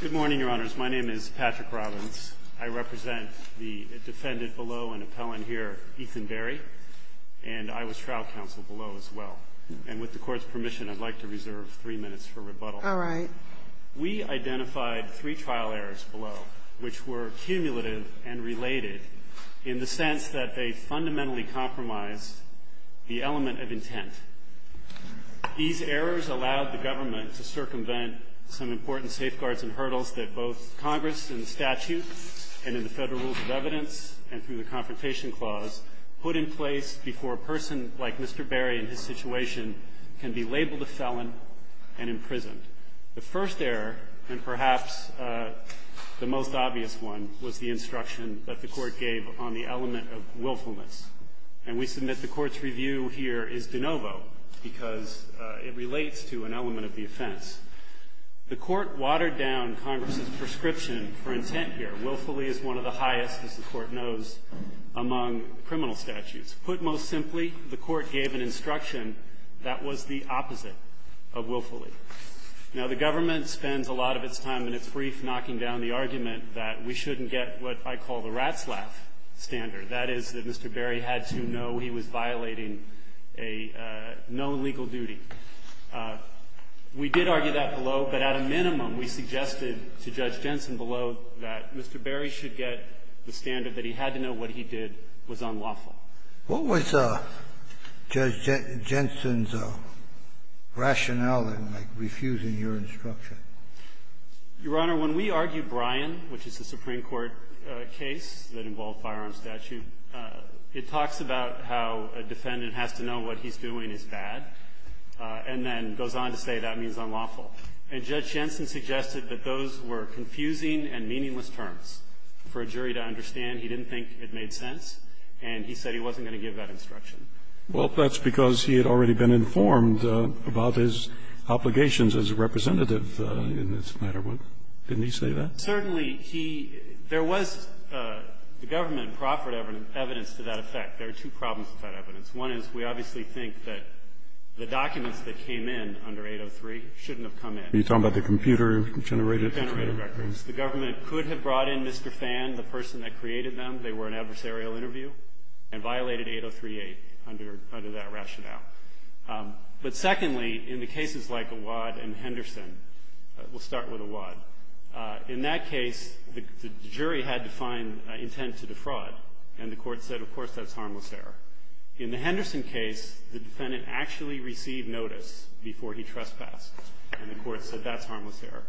Good morning, Your Honors. My name is Patrick Robbins. I represent the defendant below and appellant here, Ethan Berry, and I was trial counsel below as well. And with the Court's permission, I'd like to reserve three minutes for rebuttal. All right. We identified three trial errors below, which were cumulative and related in the sense that they fundamentally compromised the element of intent. These errors allowed the government to circumvent some important safeguards and hurdles that both Congress in the statute and in the Federal Rules of Evidence and through the Confrontation Clause put in place before a person like Mr. Berry and his situation can be labeled a felon and imprisoned. The first error, and perhaps the most obvious one, was the instruction that the Court gave on the element of willfulness. And we submit the Court's review here is de novo because it relates to an element of the offense. The Court watered down Congress's prescription for intent here. Willfully is one of the highest, as the Court knows, among criminal statutes. Put most simply, the Court gave an instruction that was the opposite of willfully. Now, the government spends a lot of its time in its brief knocking down the argument that we shouldn't get what I call the rat's laugh standard. That is that Mr. Berry had to know he was violating a known legal duty. We did argue that below, but at a minimum, we suggested to Judge Jensen below that Mr. Berry should get the standard that he had to know what he did was unlawful. What was Judge Jensen's rationale in, like, refusing your instruction? Your Honor, when we argue Bryan, which is a Supreme Court case that involved firearms statute, it talks about how a defendant has to know what he's doing is bad and then goes on to say that means unlawful. And Judge Jensen suggested that those were confusing and meaningless terms for a jury to understand. He didn't think it made sense, and he said he wasn't going to give that instruction. Well, that's because he had already been informed about his obligations as a representative in this matter. Didn't he say that? Certainly. He – there was – the government proffered evidence to that effect. There are two problems with that evidence. One is we obviously think that the documents that came in under 803 shouldn't have come in. Are you talking about the computer-generated? Computer-generated records. The government could have brought in Mr. Fan, the person that created them. They were an adversarial interview and violated 803-8. Under that rationale. But secondly, in the cases like Awad and Henderson, we'll start with Awad. In that case, the jury had to find intent to defraud, and the court said, of course, that's harmless error. In the Henderson case, the defendant actually received notice before he trespassed, and the court said that's harmless error.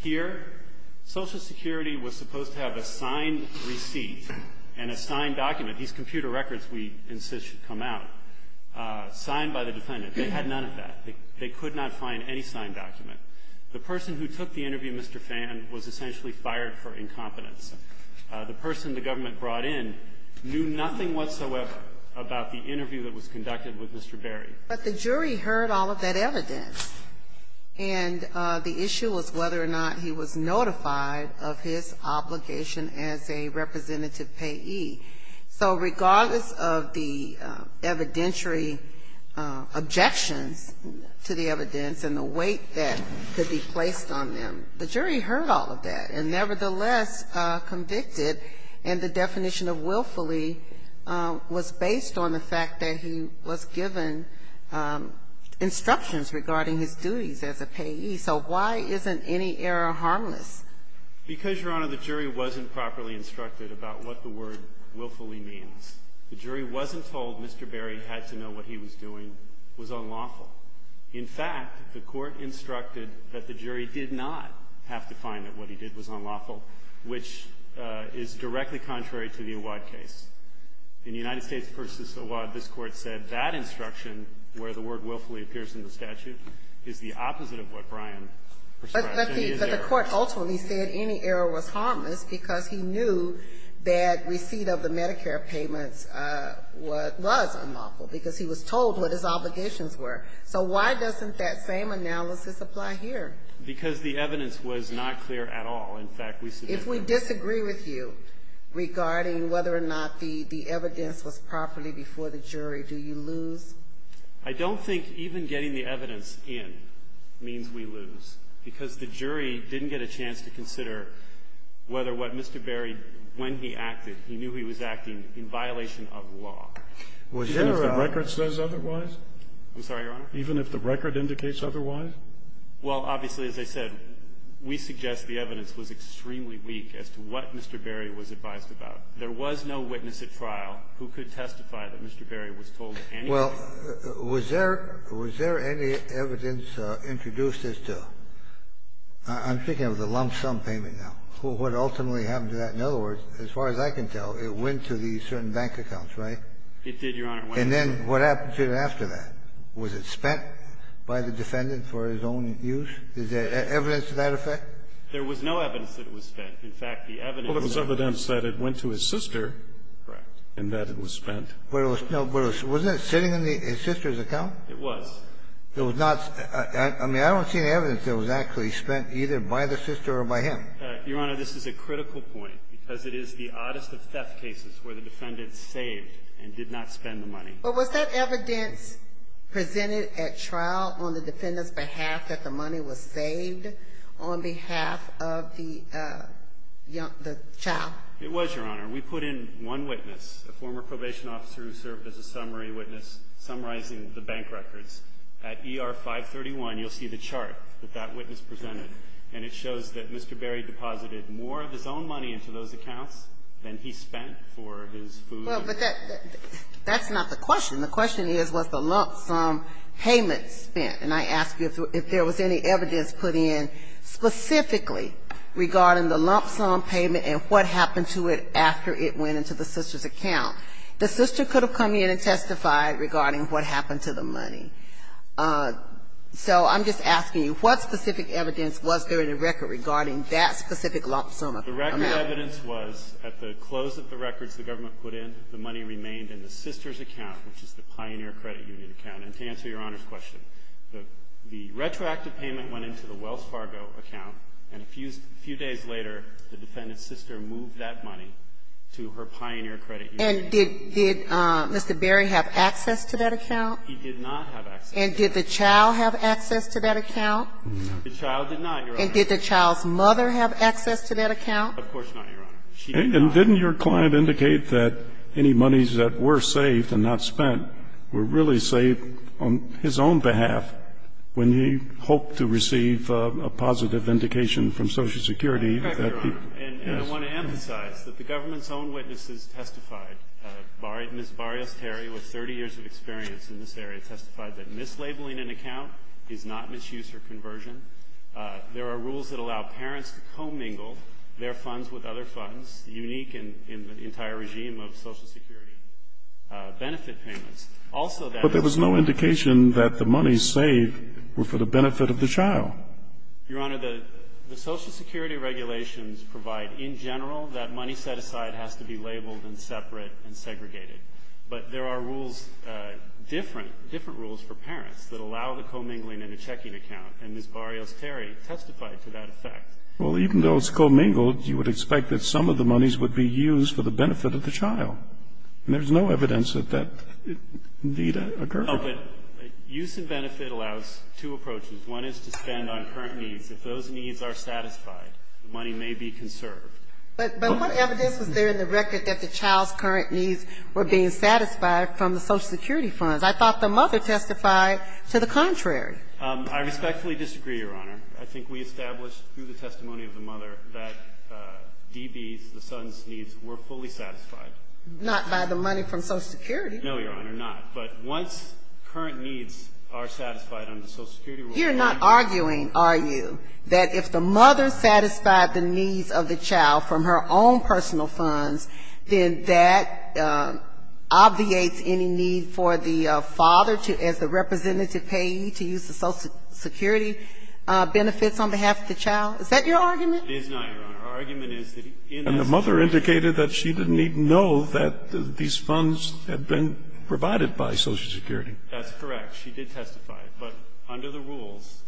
Here, Social Security was supposed to have a signed receipt and a signed document. These computer records, we insist, should come out. Signed by the defendant. They had none of that. They could not find any signed document. The person who took the interview, Mr. Fan, was essentially fired for incompetence. The person the government brought in knew nothing whatsoever about the interview that was conducted with Mr. Berry. But the jury heard all of that evidence. And the issue was whether or not he was notified of his obligation as a representative payee. So regardless of the evidentiary objections to the evidence and the weight that could be placed on them, the jury heard all of that and nevertheless convicted. And the definition of willfully was based on the fact that he was given instructions regarding his duties as a payee. So why isn't any error harmless? Because, Your Honor, the jury wasn't properly instructed about what the word willfully means. The jury wasn't told Mr. Berry had to know what he was doing was unlawful. In fact, the Court instructed that the jury did not have to find that what he did was unlawful, which is directly contrary to the Awad case. In United States v. Awad, this Court said that instruction, where the word willfully appears in the statute, is the opposite of what Brian prescribes. But the Court ultimately said any error was harmless because he knew that receipt of the Medicare payments was unlawful because he was told what his obligations were. So why doesn't that same analysis apply here? Because the evidence was not clear at all. In fact, we submitted. If we disagree with you regarding whether or not the evidence was properly before the jury, do you lose? I don't think even getting the evidence in means we lose, because the jury didn't get a chance to consider whether what Mr. Berry, when he acted, he knew he was acting in violation of law. Even if the record says otherwise? I'm sorry, Your Honor? Even if the record indicates otherwise? Well, obviously, as I said, we suggest the evidence was extremely weak as to what Mr. Berry was advised about. There was no witness at trial who could testify that Mr. Berry was told anything That's what the suggested evidence was. Well, was there any evidence introduced as to the lump sum payment now? What ultimately happened to that? In other words, as far as I can tell, it went to the certain bank accounts, It did, Your Honor. And then what happened to it after that? Was it spent by the defendant for his own use? Is there evidence to that effect? There was no evidence that it was spent. In fact, the evidence that it went to his sister. Correct. And that it was spent. Wasn't it sitting in his sister's account? It was. I mean, I don't see any evidence that it was actually spent either by the sister or by him. Your Honor, this is a critical point because it is the oddest of theft cases where the defendant saved and did not spend the money. But was that evidence presented at trial on the defendant's behalf that the money was saved on behalf of the child? It was, Your Honor. We put in one witness, a former probation officer who served as a summary witness summarizing the bank records. At ER 531, you'll see the chart that that witness presented. And it shows that Mr. Berry deposited more of his own money into those accounts than he spent for his food. Well, but that's not the question. The question is, was the lump sum payment spent? And I ask you if there was any evidence put in specifically regarding the lump sum payment and what happened to it after it went into the sister's account. The sister could have come in and testified regarding what happened to the money. So I'm just asking you, what specific evidence was there in the record regarding that specific lump sum amount? The record evidence was at the close of the records the government put in, the money remained in the sister's account, which is the Pioneer Credit Union account. And to answer Your Honor's question, the retroactive payment went into the Wells Fargo account, and a few days later, the defendant's sister moved that money to her Pioneer Credit Union account. And did Mr. Berry have access to that account? He did not have access to that account. And did the child have access to that account? The child did not, Your Honor. And did the child's mother have access to that account? Of course not, Your Honor. She did not. And didn't your client indicate that any monies that were saved and not spent were really saved on his own behalf when he hoped to receive a positive indication from Social Security that he was? Correct, Your Honor. And I want to emphasize that the government's own witnesses testified. Ms. Barrios-Terry, with 30 years of experience in this area, testified that mislabeling an account is not misuse or conversion. There are rules that allow parents to co-mingle their funds with other funds, unique in the entire regime of Social Security benefit payments. Also that is. But there was no indication that the monies saved were for the benefit of the child. Your Honor, the Social Security regulations provide in general that money set aside has to be labeled and separate and segregated. But there are rules, different rules for parents that allow the co-mingling in a Well, even though it's co-mingled, you would expect that some of the monies would be used for the benefit of the child. And there's no evidence that that need occur. No, but use and benefit allows two approaches. One is to spend on current needs. If those needs are satisfied, the money may be conserved. But what evidence was there in the record that the child's current needs were being satisfied from the Social Security funds? I thought the mother testified to the contrary. I respectfully disagree, Your Honor. I think we established through the testimony of the mother that D.B.'s, the son's needs were fully satisfied. Not by the money from Social Security. No, Your Honor, not. But once current needs are satisfied under Social Security rules. You're not arguing, are you, that if the mother satisfied the needs of the child from her own personal funds, then that obviates any need for the father to, as the Social Security benefits on behalf of the child? Is that your argument? It is not, Your Honor. Our argument is that in that situation. And the mother indicated that she didn't even know that these funds had been provided by Social Security. That's correct. She did testify. But under the rules,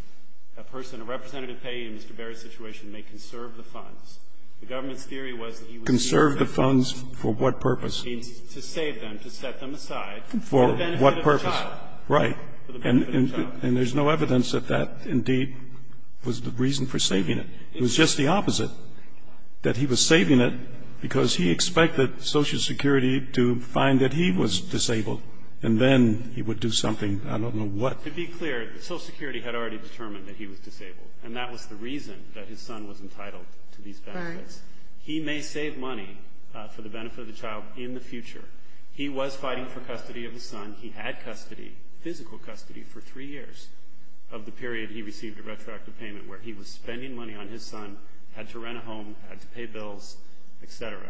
a person, a representative payee in Mr. Berry's situation may conserve the funds. The government's theory was that he would save the funds. Conserve the funds for what purpose? To save them, to set them aside. For what purpose? For the benefit of the child. Right. And there's no evidence that that, indeed, was the reason for saving it. It was just the opposite, that he was saving it because he expected Social Security to find that he was disabled, and then he would do something, I don't know what. To be clear, Social Security had already determined that he was disabled, and that was the reason that his son was entitled to these benefits. Right. He may save money for the benefit of the child in the future. He was fighting for custody of his son. He had custody, physical custody, for three years of the period he received a retroactive payment where he was spending money on his son, had to rent a home, had to pay bills, et cetera.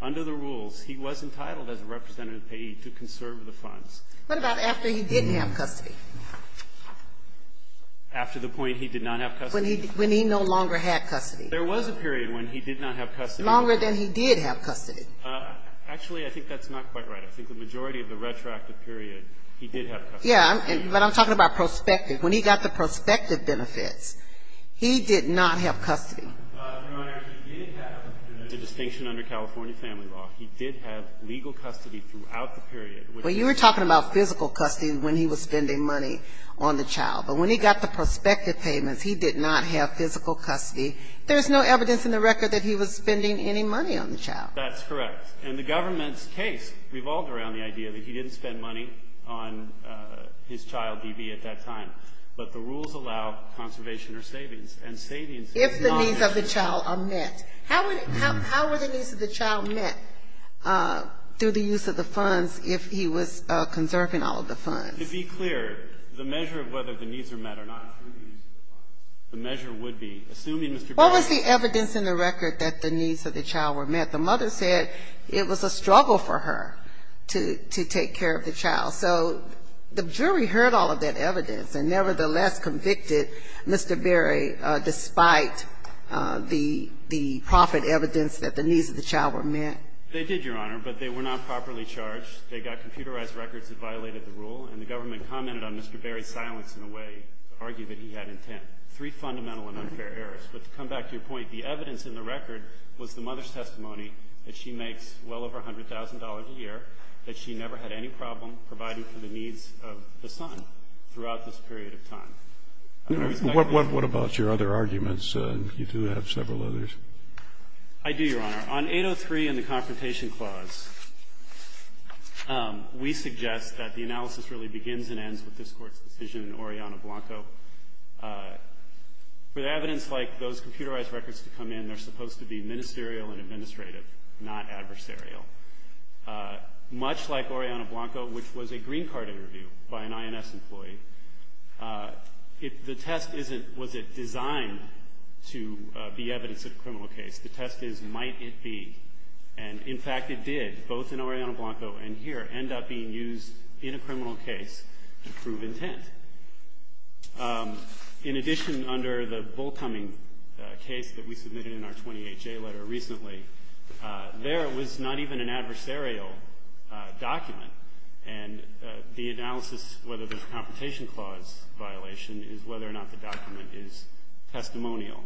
Under the rules, he was entitled as a representative payee to conserve the funds. What about after he didn't have custody? After the point he did not have custody. When he no longer had custody. There was a period when he did not have custody. Longer than he did have custody. Actually, I think that's not quite right. I think the majority of the retroactive period, he did have custody. Yeah, but I'm talking about prospective. When he got the prospective benefits, he did not have custody. Your Honor, he did have. It's a distinction under California family law. He did have legal custody throughout the period. Well, you were talking about physical custody when he was spending money on the child. But when he got the prospective payments, he did not have physical custody. There's no evidence in the record that he was spending any money on the child. That's correct. And the government's case revolved around the idea that he didn't spend money on his child, D.B., at that time. But the rules allow conservation or savings. And savings. If the needs of the child are met. How were the needs of the child met through the use of the funds if he was conserving all of the funds? To be clear, the measure of whether the needs were met or not through the use of the funds, the measure would be, assuming Mr. What was the evidence in the record that the needs of the child were met? The mother said it was a struggle for her to take care of the child. So the jury heard all of that evidence and nevertheless convicted Mr. Berry, despite the profit evidence that the needs of the child were met. They did, Your Honor, but they were not properly charged. They got computerized records that violated the rule, and the government commented on Mr. Berry's silence in a way to argue that he had intent. Three fundamental and unfair errors. But to come back to your point, the evidence in the record was the mother's testimony that she makes well over $100,000 a year, that she never had any problem providing for the needs of the son throughout this period of time. What about your other arguments? You do have several others. I do, Your Honor. On 803 and the Confrontation Clause, we suggest that the analysis really begins and ends with this Court's decision in Oriana Blanco. For evidence like those computerized records to come in, they're supposed to be ministerial and administrative, not adversarial. Much like Oriana Blanco, which was a green card interview by an INS employee, the test isn't, was it designed to be evidence of a criminal case? The test is, might it be? And in fact it did, both in Oriana Blanco and here, end up being used in a criminal case to prove intent. In addition, under the Bull Cumming case that we submitted in our 20HA letter recently, there was not even an adversarial document. And the analysis, whether there's a Confrontation Clause violation, is whether or not the document is testimonial.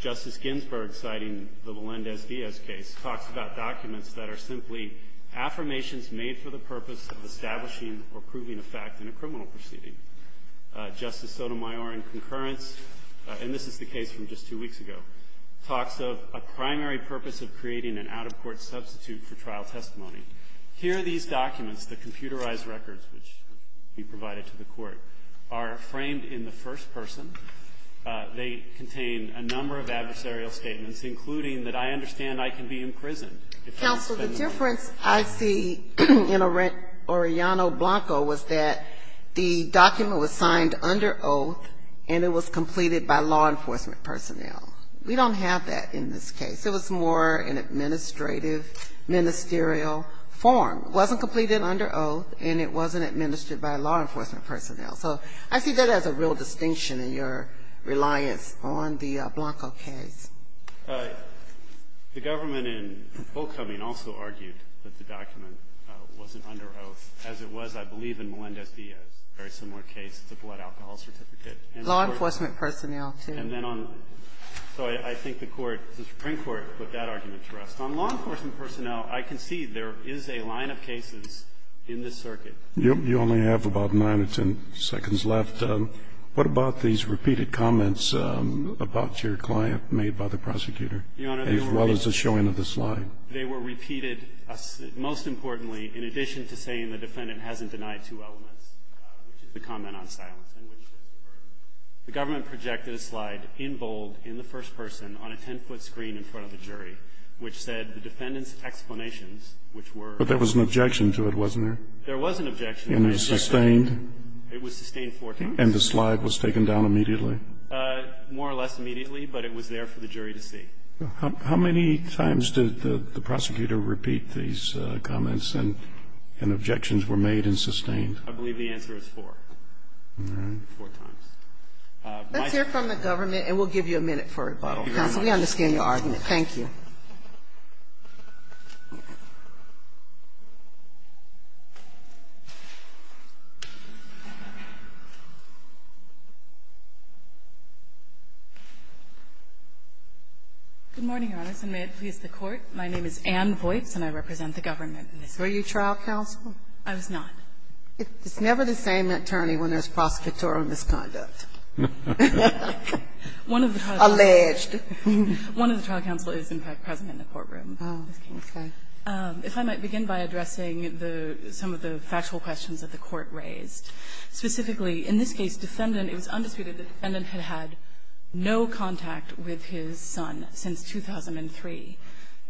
Justice Ginsburg, citing the Melendez-Diaz case, talks about documents that are simply affirmations made for the purpose of establishing or proving a fact in a criminal proceeding. Justice Sotomayor in concurrence, and this is the case from just two weeks ago, talks of a primary purpose of creating an out-of-court substitute for trial testimony. Here, these documents, the computerized records which we provided to the Court, are framed in the first person. They contain a number of adversarial statements, including that I understand I can be imprisoned. Counsel, the difference I see in Oriana Blanco was that the document was signed under oath and it was completed by law enforcement personnel. We don't have that in this case. It was more an administrative, ministerial form. It wasn't completed under oath and it wasn't administered by law enforcement personnel. So I see that as a real distinction in your reliance on the Blanco case. The government in full coming also argued that the document wasn't under oath, as it was, I believe, in Melendez-Diaz, a very similar case to the blood alcohol certificate. Law enforcement personnel, too. And then on the court, I think the Supreme Court put that argument to rest. On law enforcement personnel, I can see there is a line of cases in this circuit. You only have about 9 or 10 seconds left. What about these repeated comments about your client made by the prosecutor, as well as the showing of the slide? Your Honor, they were repeated, most importantly, in addition to saying the defendant hasn't denied two elements, which is the comment on silence and which is the verdict. The government projected a slide in bold in the first person on a 10-foot screen in front of the jury, which said the defendant's explanations, which were. But there was an objection to it, wasn't there? There was an objection. And it was sustained? It was sustained four times. And the slide was taken down immediately? More or less immediately, but it was there for the jury to see. How many times did the prosecutor repeat these comments and objections were made and sustained? I believe the answer is four. All right. Four times. Let's hear from the government, and we'll give you a minute for rebuttal. Counsel, we understand your argument. Thank you. Good morning, Your Honors, and may it please the Court. My name is Anne Voights, and I represent the government in this case. Were you trial counsel? I was not. It's never the same attorney when there's prosecutorial misconduct. One of the trial counsels. Alleged. One of the trial counsel is, in fact, present in the courtroom. Oh, okay. If I might begin by addressing some of the factual questions that the Court raised. Specifically, in this case, defendant, it was undisputed that the defendant had had no contact with his son since 2003.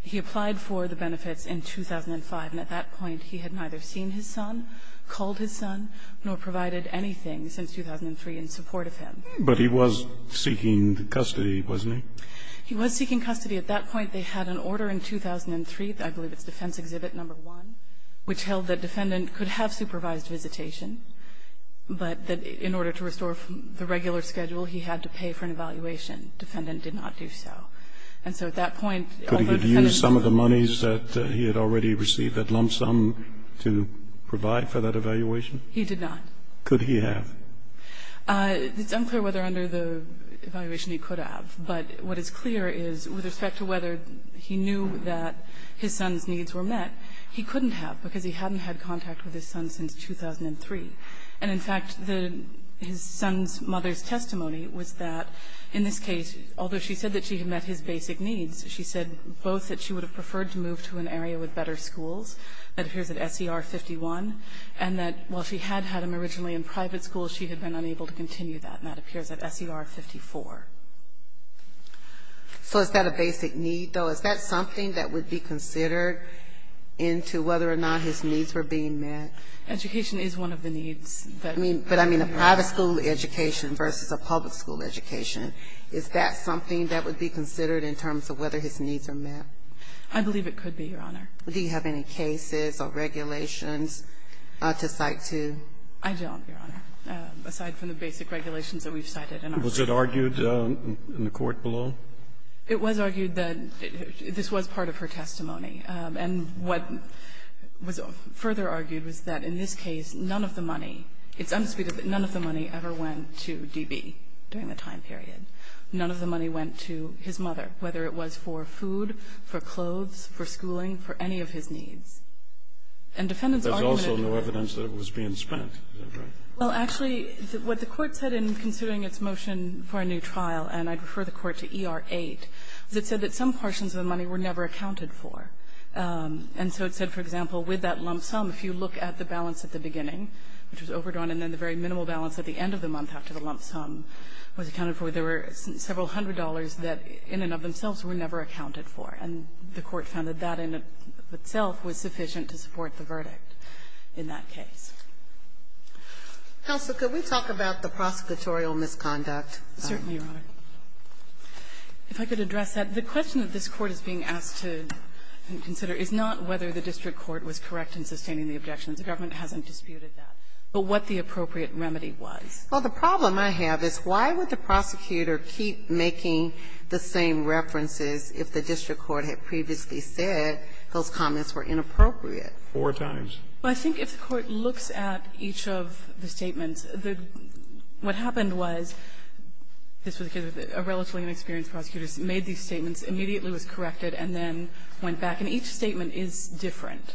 He applied for the benefits in 2005, and at that point he had neither seen his son, called his son, nor provided anything since 2003 in support of him. But he was seeking custody, wasn't he? He was seeking custody. At that point, they had an order in 2003, I believe it's Defense Exhibit No. 1, which held that defendant could have supervised visitation, but that in order to restore the regular schedule, he had to pay for an evaluation. Defendant did not do so. And so at that point, although defendant used some of the monies that he had already received at lump sum to provide for that evaluation? He did not. Could he have? It's unclear whether under the evaluation he could have, but what is clear is with respect to whether he knew that his son's needs were met, he couldn't have because he hadn't had contact with his son since 2003. And in fact, the his son's mother's testimony was that in this case, although she said that she had met his basic needs, she said both that she would have preferred to move to an area with better schools, that appears at SER 51, and that while she had had him originally in private school, she had been unable to continue that, and that appears at SER 54. So is that a basic need, though? Is that something that would be considered into whether or not his needs were being met? Education is one of the needs that we have. But I mean a private school education versus a public school education. Is that something that would be considered in terms of whether his needs are met? I believe it could be, Your Honor. Do you have any cases or regulations to cite to? I don't, Your Honor, aside from the basic regulations that we've cited. Was it argued in the court below? It was argued that this was part of her testimony. And what was further argued was that in this case, none of the money, it's unspeakable, none of the money ever went to DB during the time period. None of the money went to his mother, whether it was for food, for clothes, for schooling, for any of his needs. And defendants argued that it was. There's also no evidence that it was being spent. Is that correct? Well, actually, what the Court said in considering its motion for a new trial, and I'd refer the Court to ER 8, is it said that some portions of the money were never accounted for. And so it said, for example, with that lump sum, if you look at the balance at the beginning, which was overdrawn, and then the very minimal balance at the end of the month after the lump sum was accounted for, there were several hundred dollars that, in and of themselves, were never accounted for. And the Court found that that in itself was sufficient to support the verdict in that case. Counsel, could we talk about the prosecutorial misconduct? Certainly, Your Honor. If I could address that. The question that this Court is being asked to consider is not whether the district court was correct in sustaining the objections. The government hasn't disputed that. But what the appropriate remedy was. Well, the problem I have is, why would the prosecutor keep making the same references if the district court had previously said those comments were inappropriate? Four times. Well, I think if the Court looks at each of the statements, what happened was, this was because a relatively inexperienced prosecutor made these statements, immediately was corrected, and then went back. And each statement is different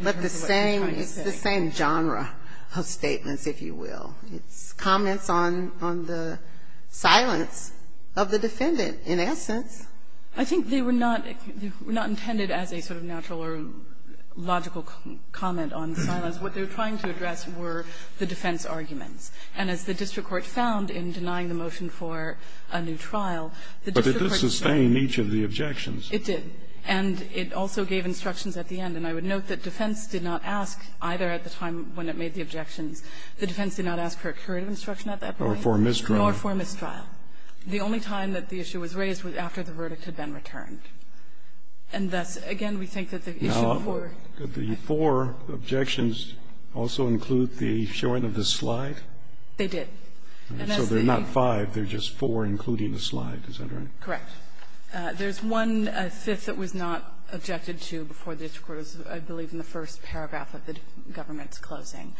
in terms of what they're trying to say. But the same genre of statements, if you will. It's comments on the silence of the defendant, in essence. I think they were not intended as a sort of natural or logical comment on silence. What they were trying to address were the defense arguments. And as the district court found in denying the motion for a new trial, the district court did not. But it did sustain each of the objections. It did. And it also gave instructions at the end. And I would note that defense did not ask either at the time when it made the objections. The defense did not ask for a curative instruction at that point. Nor for a mistrial. Nor for a mistrial. The only time that the issue was raised was after the verdict had been returned. And thus, again, we think that the issue for the four objections also include the showing of the slide? They did. So they're not five. They're just four, including the slide. Is that right? Correct. There's one fifth that was not objected to before the district court was, I believe, in the first paragraph of the government's closing.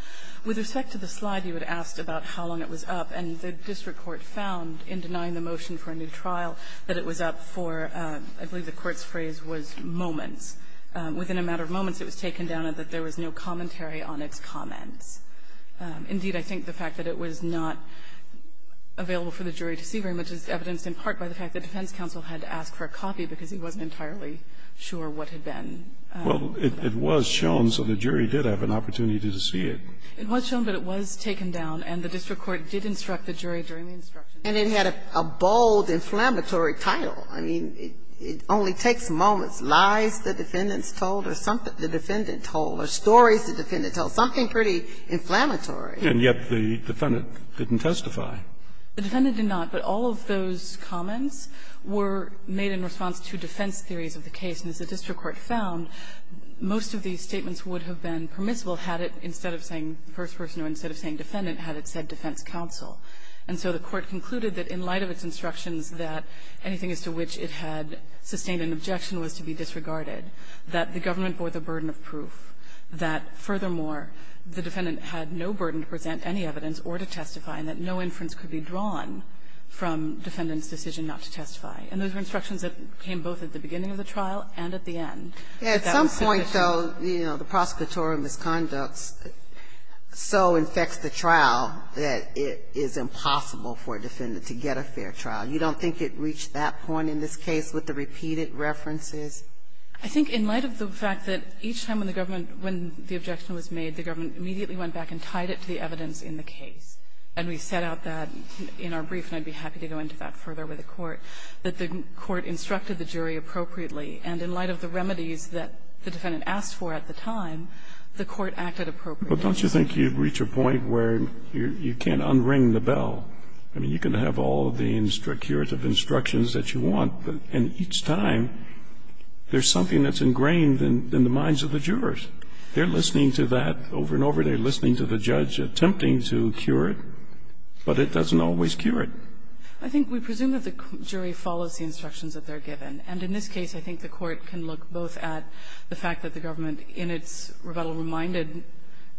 With respect to the slide, you had asked about how long it was up. And the district court found in denying the motion for a new trial that it was up for the court's phrase was moments. Within a matter of moments, it was taken down that there was no commentary on its comments. Indeed, I think the fact that it was not available for the jury to see very much is evidenced in part by the fact that defense counsel had to ask for a copy because he wasn't entirely sure what had been. Well, it was shown, so the jury did have an opportunity to see it. It was shown, but it was taken down. And the district court did instruct the jury during the instruction. And it had a bold, inflammatory title. I mean, it only takes moments, lies the defendants told or something the defendant told or stories the defendant told, something pretty inflammatory. And yet the defendant didn't testify. The defendant did not. But all of those comments were made in response to defense theories of the case. And as the district court found, most of these statements would have been permissible had it, instead of saying first person or instead of saying defendant, had it said defense counsel. And so the Court concluded that in light of its instructions that anything as to which it had sustained an objection was to be disregarded, that the government bore the burden of proof, that, furthermore, the defendant had no burden to present any evidence or to testify, and that no inference could be drawn from defendant's decision not to testify. And those were instructions that came both at the beginning of the trial and at the end. That was sufficient. Sotomayor, at some point, though, you know, the prosecutorial misconduct so infects the trial that it is impossible for a defendant to get a fair trial. You don't think it reached that point in this case with the repeated references? I think in light of the fact that each time when the government, when the objection was made, the government immediately went back and tied it to the evidence in the case, and we set out that in our brief, and I'd be happy to go into that further with the Court, that the Court instructed the jury appropriately. And in light of the remedies that the defendant asked for at the time, the Court acted appropriately. But don't you think you've reached a point where you can't unring the bell? I mean, you can have all of the curative instructions that you want, but each time there's something that's ingrained in the minds of the jurors. They're listening to that over and over. They're listening to the judge attempting to cure it, but it doesn't always cure it. I think we presume that the jury follows the instructions that they're given. And in this case, I think the Court can look both at the fact that the government in its rebuttal reminded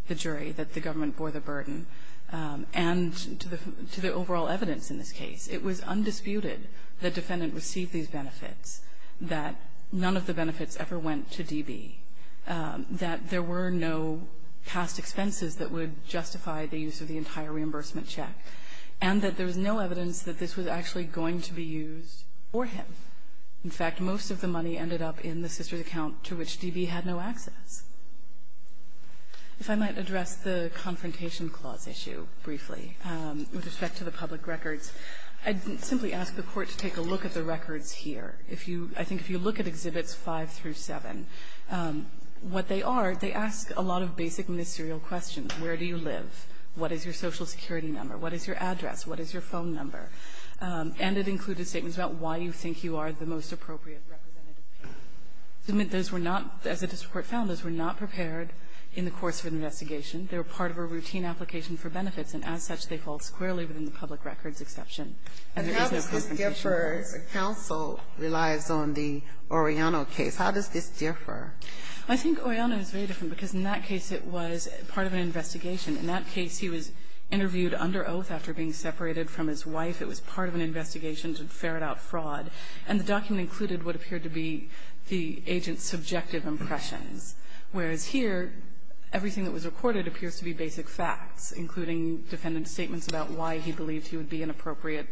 the jury that the government bore the burden, and to the overall evidence in this case. It was undisputed that the defendant received these benefits, that none of the benefits ever went to DB, that there were no past expenses that would justify the use of the entire reimbursement check, and that there was no evidence that this was actually going to be used for him. In fact, most of the money ended up in the sister's account to which DB had no access. If I might address the Confrontation Clause issue briefly with respect to the public records, I'd simply ask the Court to take a look at the records here. If you – I think if you look at Exhibits 5 through 7, what they are, they ask a lot of basic ministerial questions. Where do you live? What is your Social Security number? What is your address? What is your phone number? And it included statements about why you think you are the most appropriate representative payment. Those were not, as the district court found, those were not prepared in the course of an investigation. They were part of a routine application for benefits, and as such, they fall squarely within the public records exception. And there is no Confrontation Clause. Ginsburg. And how does this differ? The counsel relies on the Oriano case. How does this differ? Harrington. I think Oriano is very different, because in that case, it was part of an investigation. In that case, he was interviewed under oath after being separated from his wife. It was part of an investigation to ferret out fraud. And the document included what appeared to be the agent's subjective impressions, whereas here, everything that was recorded appears to be basic facts, including defendant's statements about why he believed he would be an appropriate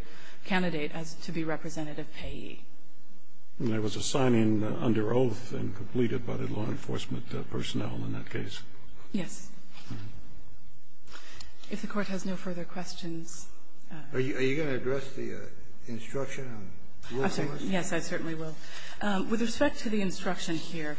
candidate as to be representative payee. And there was a signing under oath and completed by the law enforcement personnel in that case. Yes. If the Court has no further questions. Are you going to address the instruction on willfulness? Yes, I certainly will. With respect to the instruction here,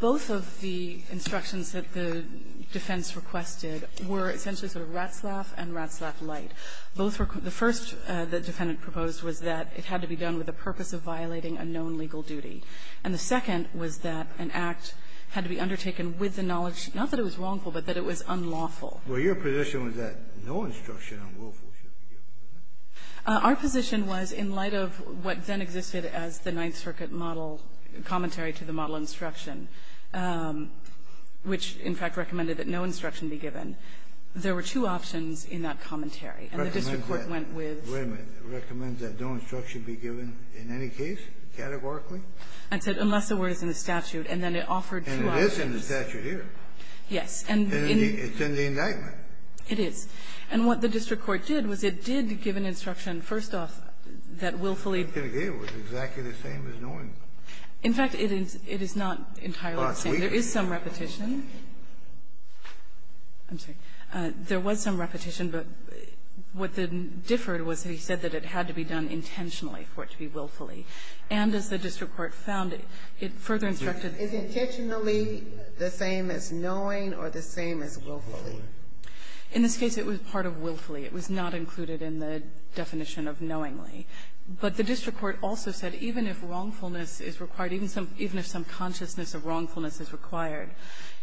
both of the instructions that the defense requested were essentially sort of rat's laugh and rat's laugh light. Both were the first the defendant proposed was that it had to be done with the purpose of violating a known legal duty, and the second was that an act had to be undertaken with the knowledge, not that it was wrongful, but that it was unlawful. Well, your position was that no instruction on willfulness should be given, right? Our position was, in light of what then existed as the Ninth Circuit model commentary to the model instruction, which, in fact, recommended that no instruction be given, there were two options in that commentary. And the district court went with the other. Wait a minute. Recommends that no instruction be given in any case categorically? I said unless the word is in the statute, and then it offered two options. And it is in the statute here. Yes. It's in the indictment. It is. And what the district court did was it did give an instruction, first off, that willfully. It was exactly the same as knowing. In fact, it is not entirely the same. There is some repetition. I'm sorry. There was some repetition, but what differed was that he said that it had to be done intentionally for it to be willfully. And as the district court found, it further instructed. Is intentionally the same as knowing or the same as willfully? In this case, it was part of willfully. It was not included in the definition of knowingly. But the district court also said even if wrongfulness is required, even if some consciousness of wrongfulness is required,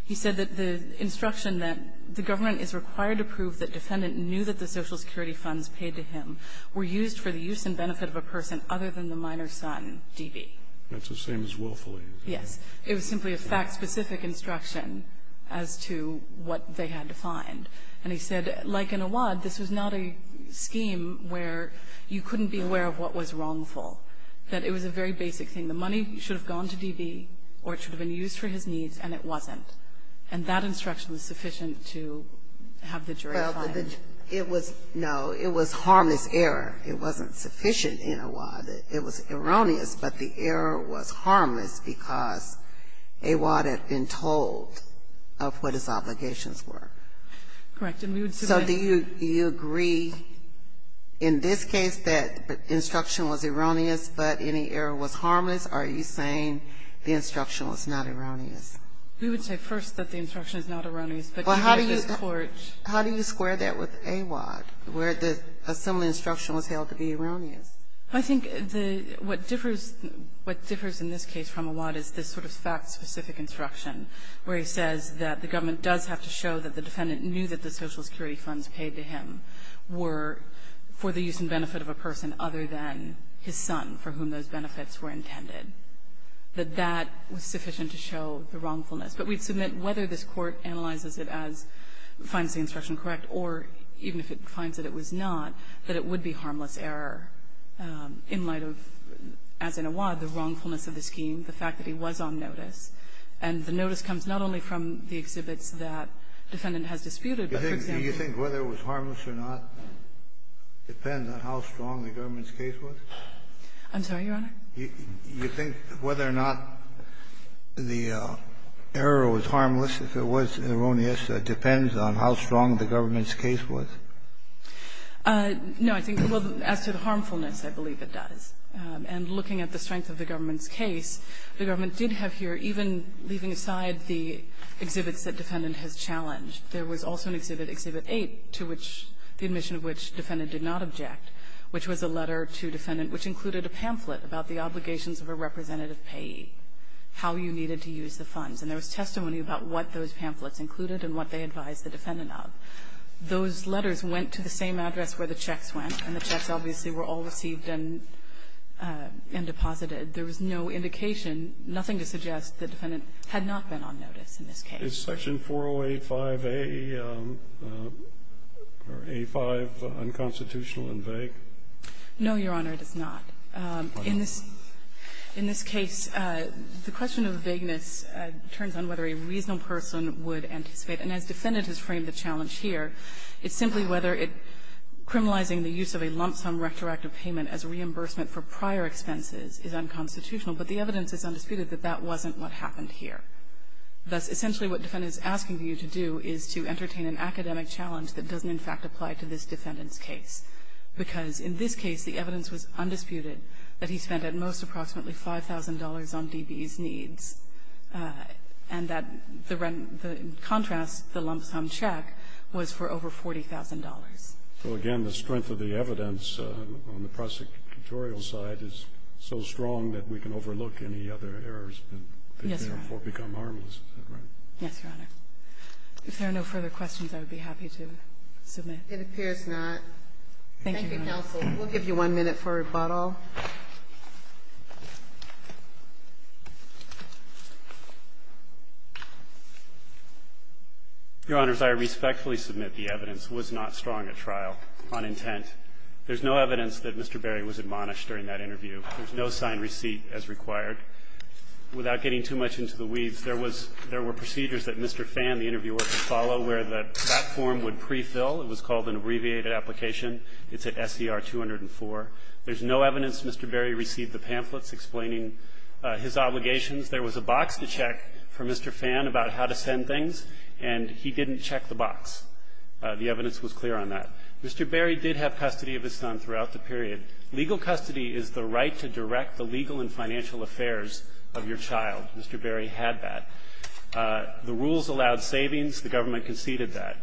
he said that the instruction that the government is required to prove that defendant knew that the Social Security funds paid to him were used for the use and benefit of a person other than the minor son, D.B. That's the same as willfully. Yes. It was simply a fact-specific instruction as to what they had to find. And he said, like in Awad, this was not a scheme where you couldn't be aware of what was wrongful, that it was a very basic thing. The money should have gone to D.B., or it should have been used for his needs, and it wasn't. And that instruction was sufficient to have the jury find. It was, no, it was harmless error. It wasn't sufficient in Awad. It was erroneous, but the error was harmless because Awad had been told of what his obligations were. Correct. And we would submit. So do you agree in this case that the instruction was erroneous, but any error was harmless? Are you saying the instruction was not erroneous? We would say first that the instruction is not erroneous, but you have this court finding that it is. How do you square that with Awad, where the assembly instruction was held to be erroneous? I think what differs in this case from Awad is this sort of fact-specific instruction where he says that the government does have to show that the defendant knew that the Social Security funds paid to him were for the use and benefit of a person other than his son for whom those benefits were intended, that that was sufficient to show the wrongfulness. But we'd submit whether this court analyzes it as finds the instruction correct or even if it finds that it was not, that it would be harmless error in light of, as in Awad, the wrongfulness of the scheme, the fact that he was on notice. And the notice comes not only from the exhibits that the defendant has disputed, but for example. Do you think whether it was harmless or not depends on how strong the government's case was? I'm sorry, Your Honor? Do you think whether or not the error was harmless, if it was erroneous, depends on how strong the government's case was? No. I think, well, as to the harmfulness, I believe it does. And looking at the strength of the government's case, the government did have here, even leaving aside the exhibits that defendant has challenged, there was also an exhibit, Exhibit 8, to which the admission of which defendant did not object, which was a letter to defendant, which included a pamphlet about the obligations of a representative payee, how you needed to use the funds. And there was testimony about what those pamphlets included and what they advised the defendant of. Those letters went to the same address where the checks went, and the checks obviously were all received and deposited. There was no indication, nothing to suggest the defendant had not been on notice in this case. Is Section 4085A or A5 unconstitutional and vague? No, Your Honor, it is not. In this case, the question of vagueness turns on whether a reasonable person would anticipate. And as defendant has framed the challenge here, it's simply whether it criminalizing the use of a lump-sum retroactive payment as reimbursement for prior expenses is unconstitutional. But the evidence is undisputed that that wasn't what happened here. Thus, essentially what defendant is asking you to do is to entertain an academic challenge that doesn't, in fact, apply to this defendant's case. Because in this case, the evidence was undisputed that he spent at most approximately $5,000 on DB's needs, and that the rent, in contrast, the lump-sum check was for over $40,000. So again, the strength of the evidence on the prosecutorial side is so strong that we can overlook any other errors that therefore become harmless, is that right? Yes, Your Honor. If there are no further questions, I would be happy to submit. It appears not. Thank you, counsel. We'll give you one minute for rebuttal. Your Honors, I respectfully submit the evidence was not strong at trial on intent. There's no evidence that Mr. Berry was admonished during that interview. There's no signed receipt as required. Without getting too much into the weeds, there was – there were procedures that Mr. Phan, the interviewer, could follow where the platform would prefill. It was called an abbreviated application. It's at SER 204. There's no evidence Mr. Berry received the pamphlets explaining his obligations. There was a box to check for Mr. Phan about how to send things, and he didn't check the box. The evidence was clear on that. Mr. Berry did have custody of his son throughout the period. Legal custody is the right to direct the legal and financial affairs of your child. Mr. Berry had that. The rules allowed savings. The government conceded that.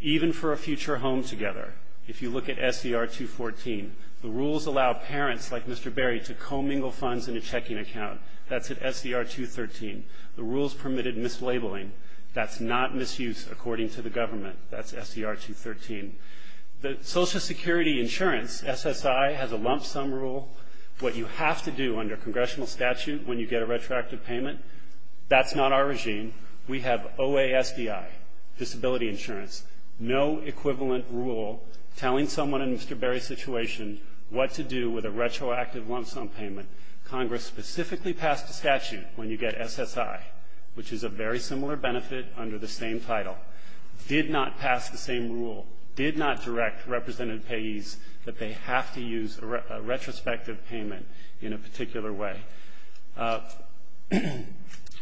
Even for a future home together, if you look at SER 214, the rules allow parents like Mr. Berry to commingle funds in a checking account. That's at SER 213. The rules permitted mislabeling. That's not misuse according to the government. That's SER 213. The Social Security Insurance, SSI, has a lump sum rule. What you have to do under congressional statute when you get a retroactive payment, that's not our regime. We have OASDI, disability insurance. No equivalent rule telling someone in Mr. Berry's situation what to do with a retroactive lump sum payment. Congress specifically passed a statute when you get SSI, which is a very similar benefit under the same title. Did not pass the same rule. Did not direct representative payees that they have to use a retrospective payment in a particular way.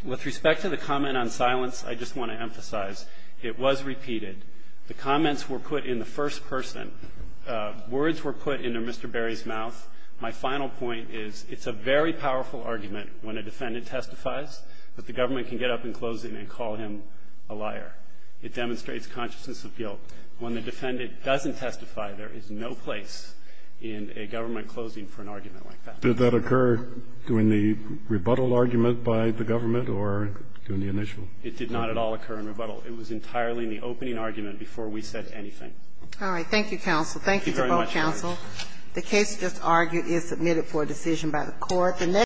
With respect to the comment on silence, I just want to emphasize it was repeated. The comments were put in the first person. Words were put into Mr. Berry's mouth. My final point is it's a very powerful argument when a defendant testifies, but the government can get up in closing and call him a liar. It demonstrates consciousness of guilt. When the defendant doesn't testify, there is no place in a government closing for an argument like that. Did that occur during the rebuttal argument by the government or during the initial? It did not at all occur in rebuttal. It was entirely in the opening argument before we said anything. All right. Thank you, counsel. Thank you to both counsel. Thank you very much, Your Honor. The case just argued is submitted for a decision by the court.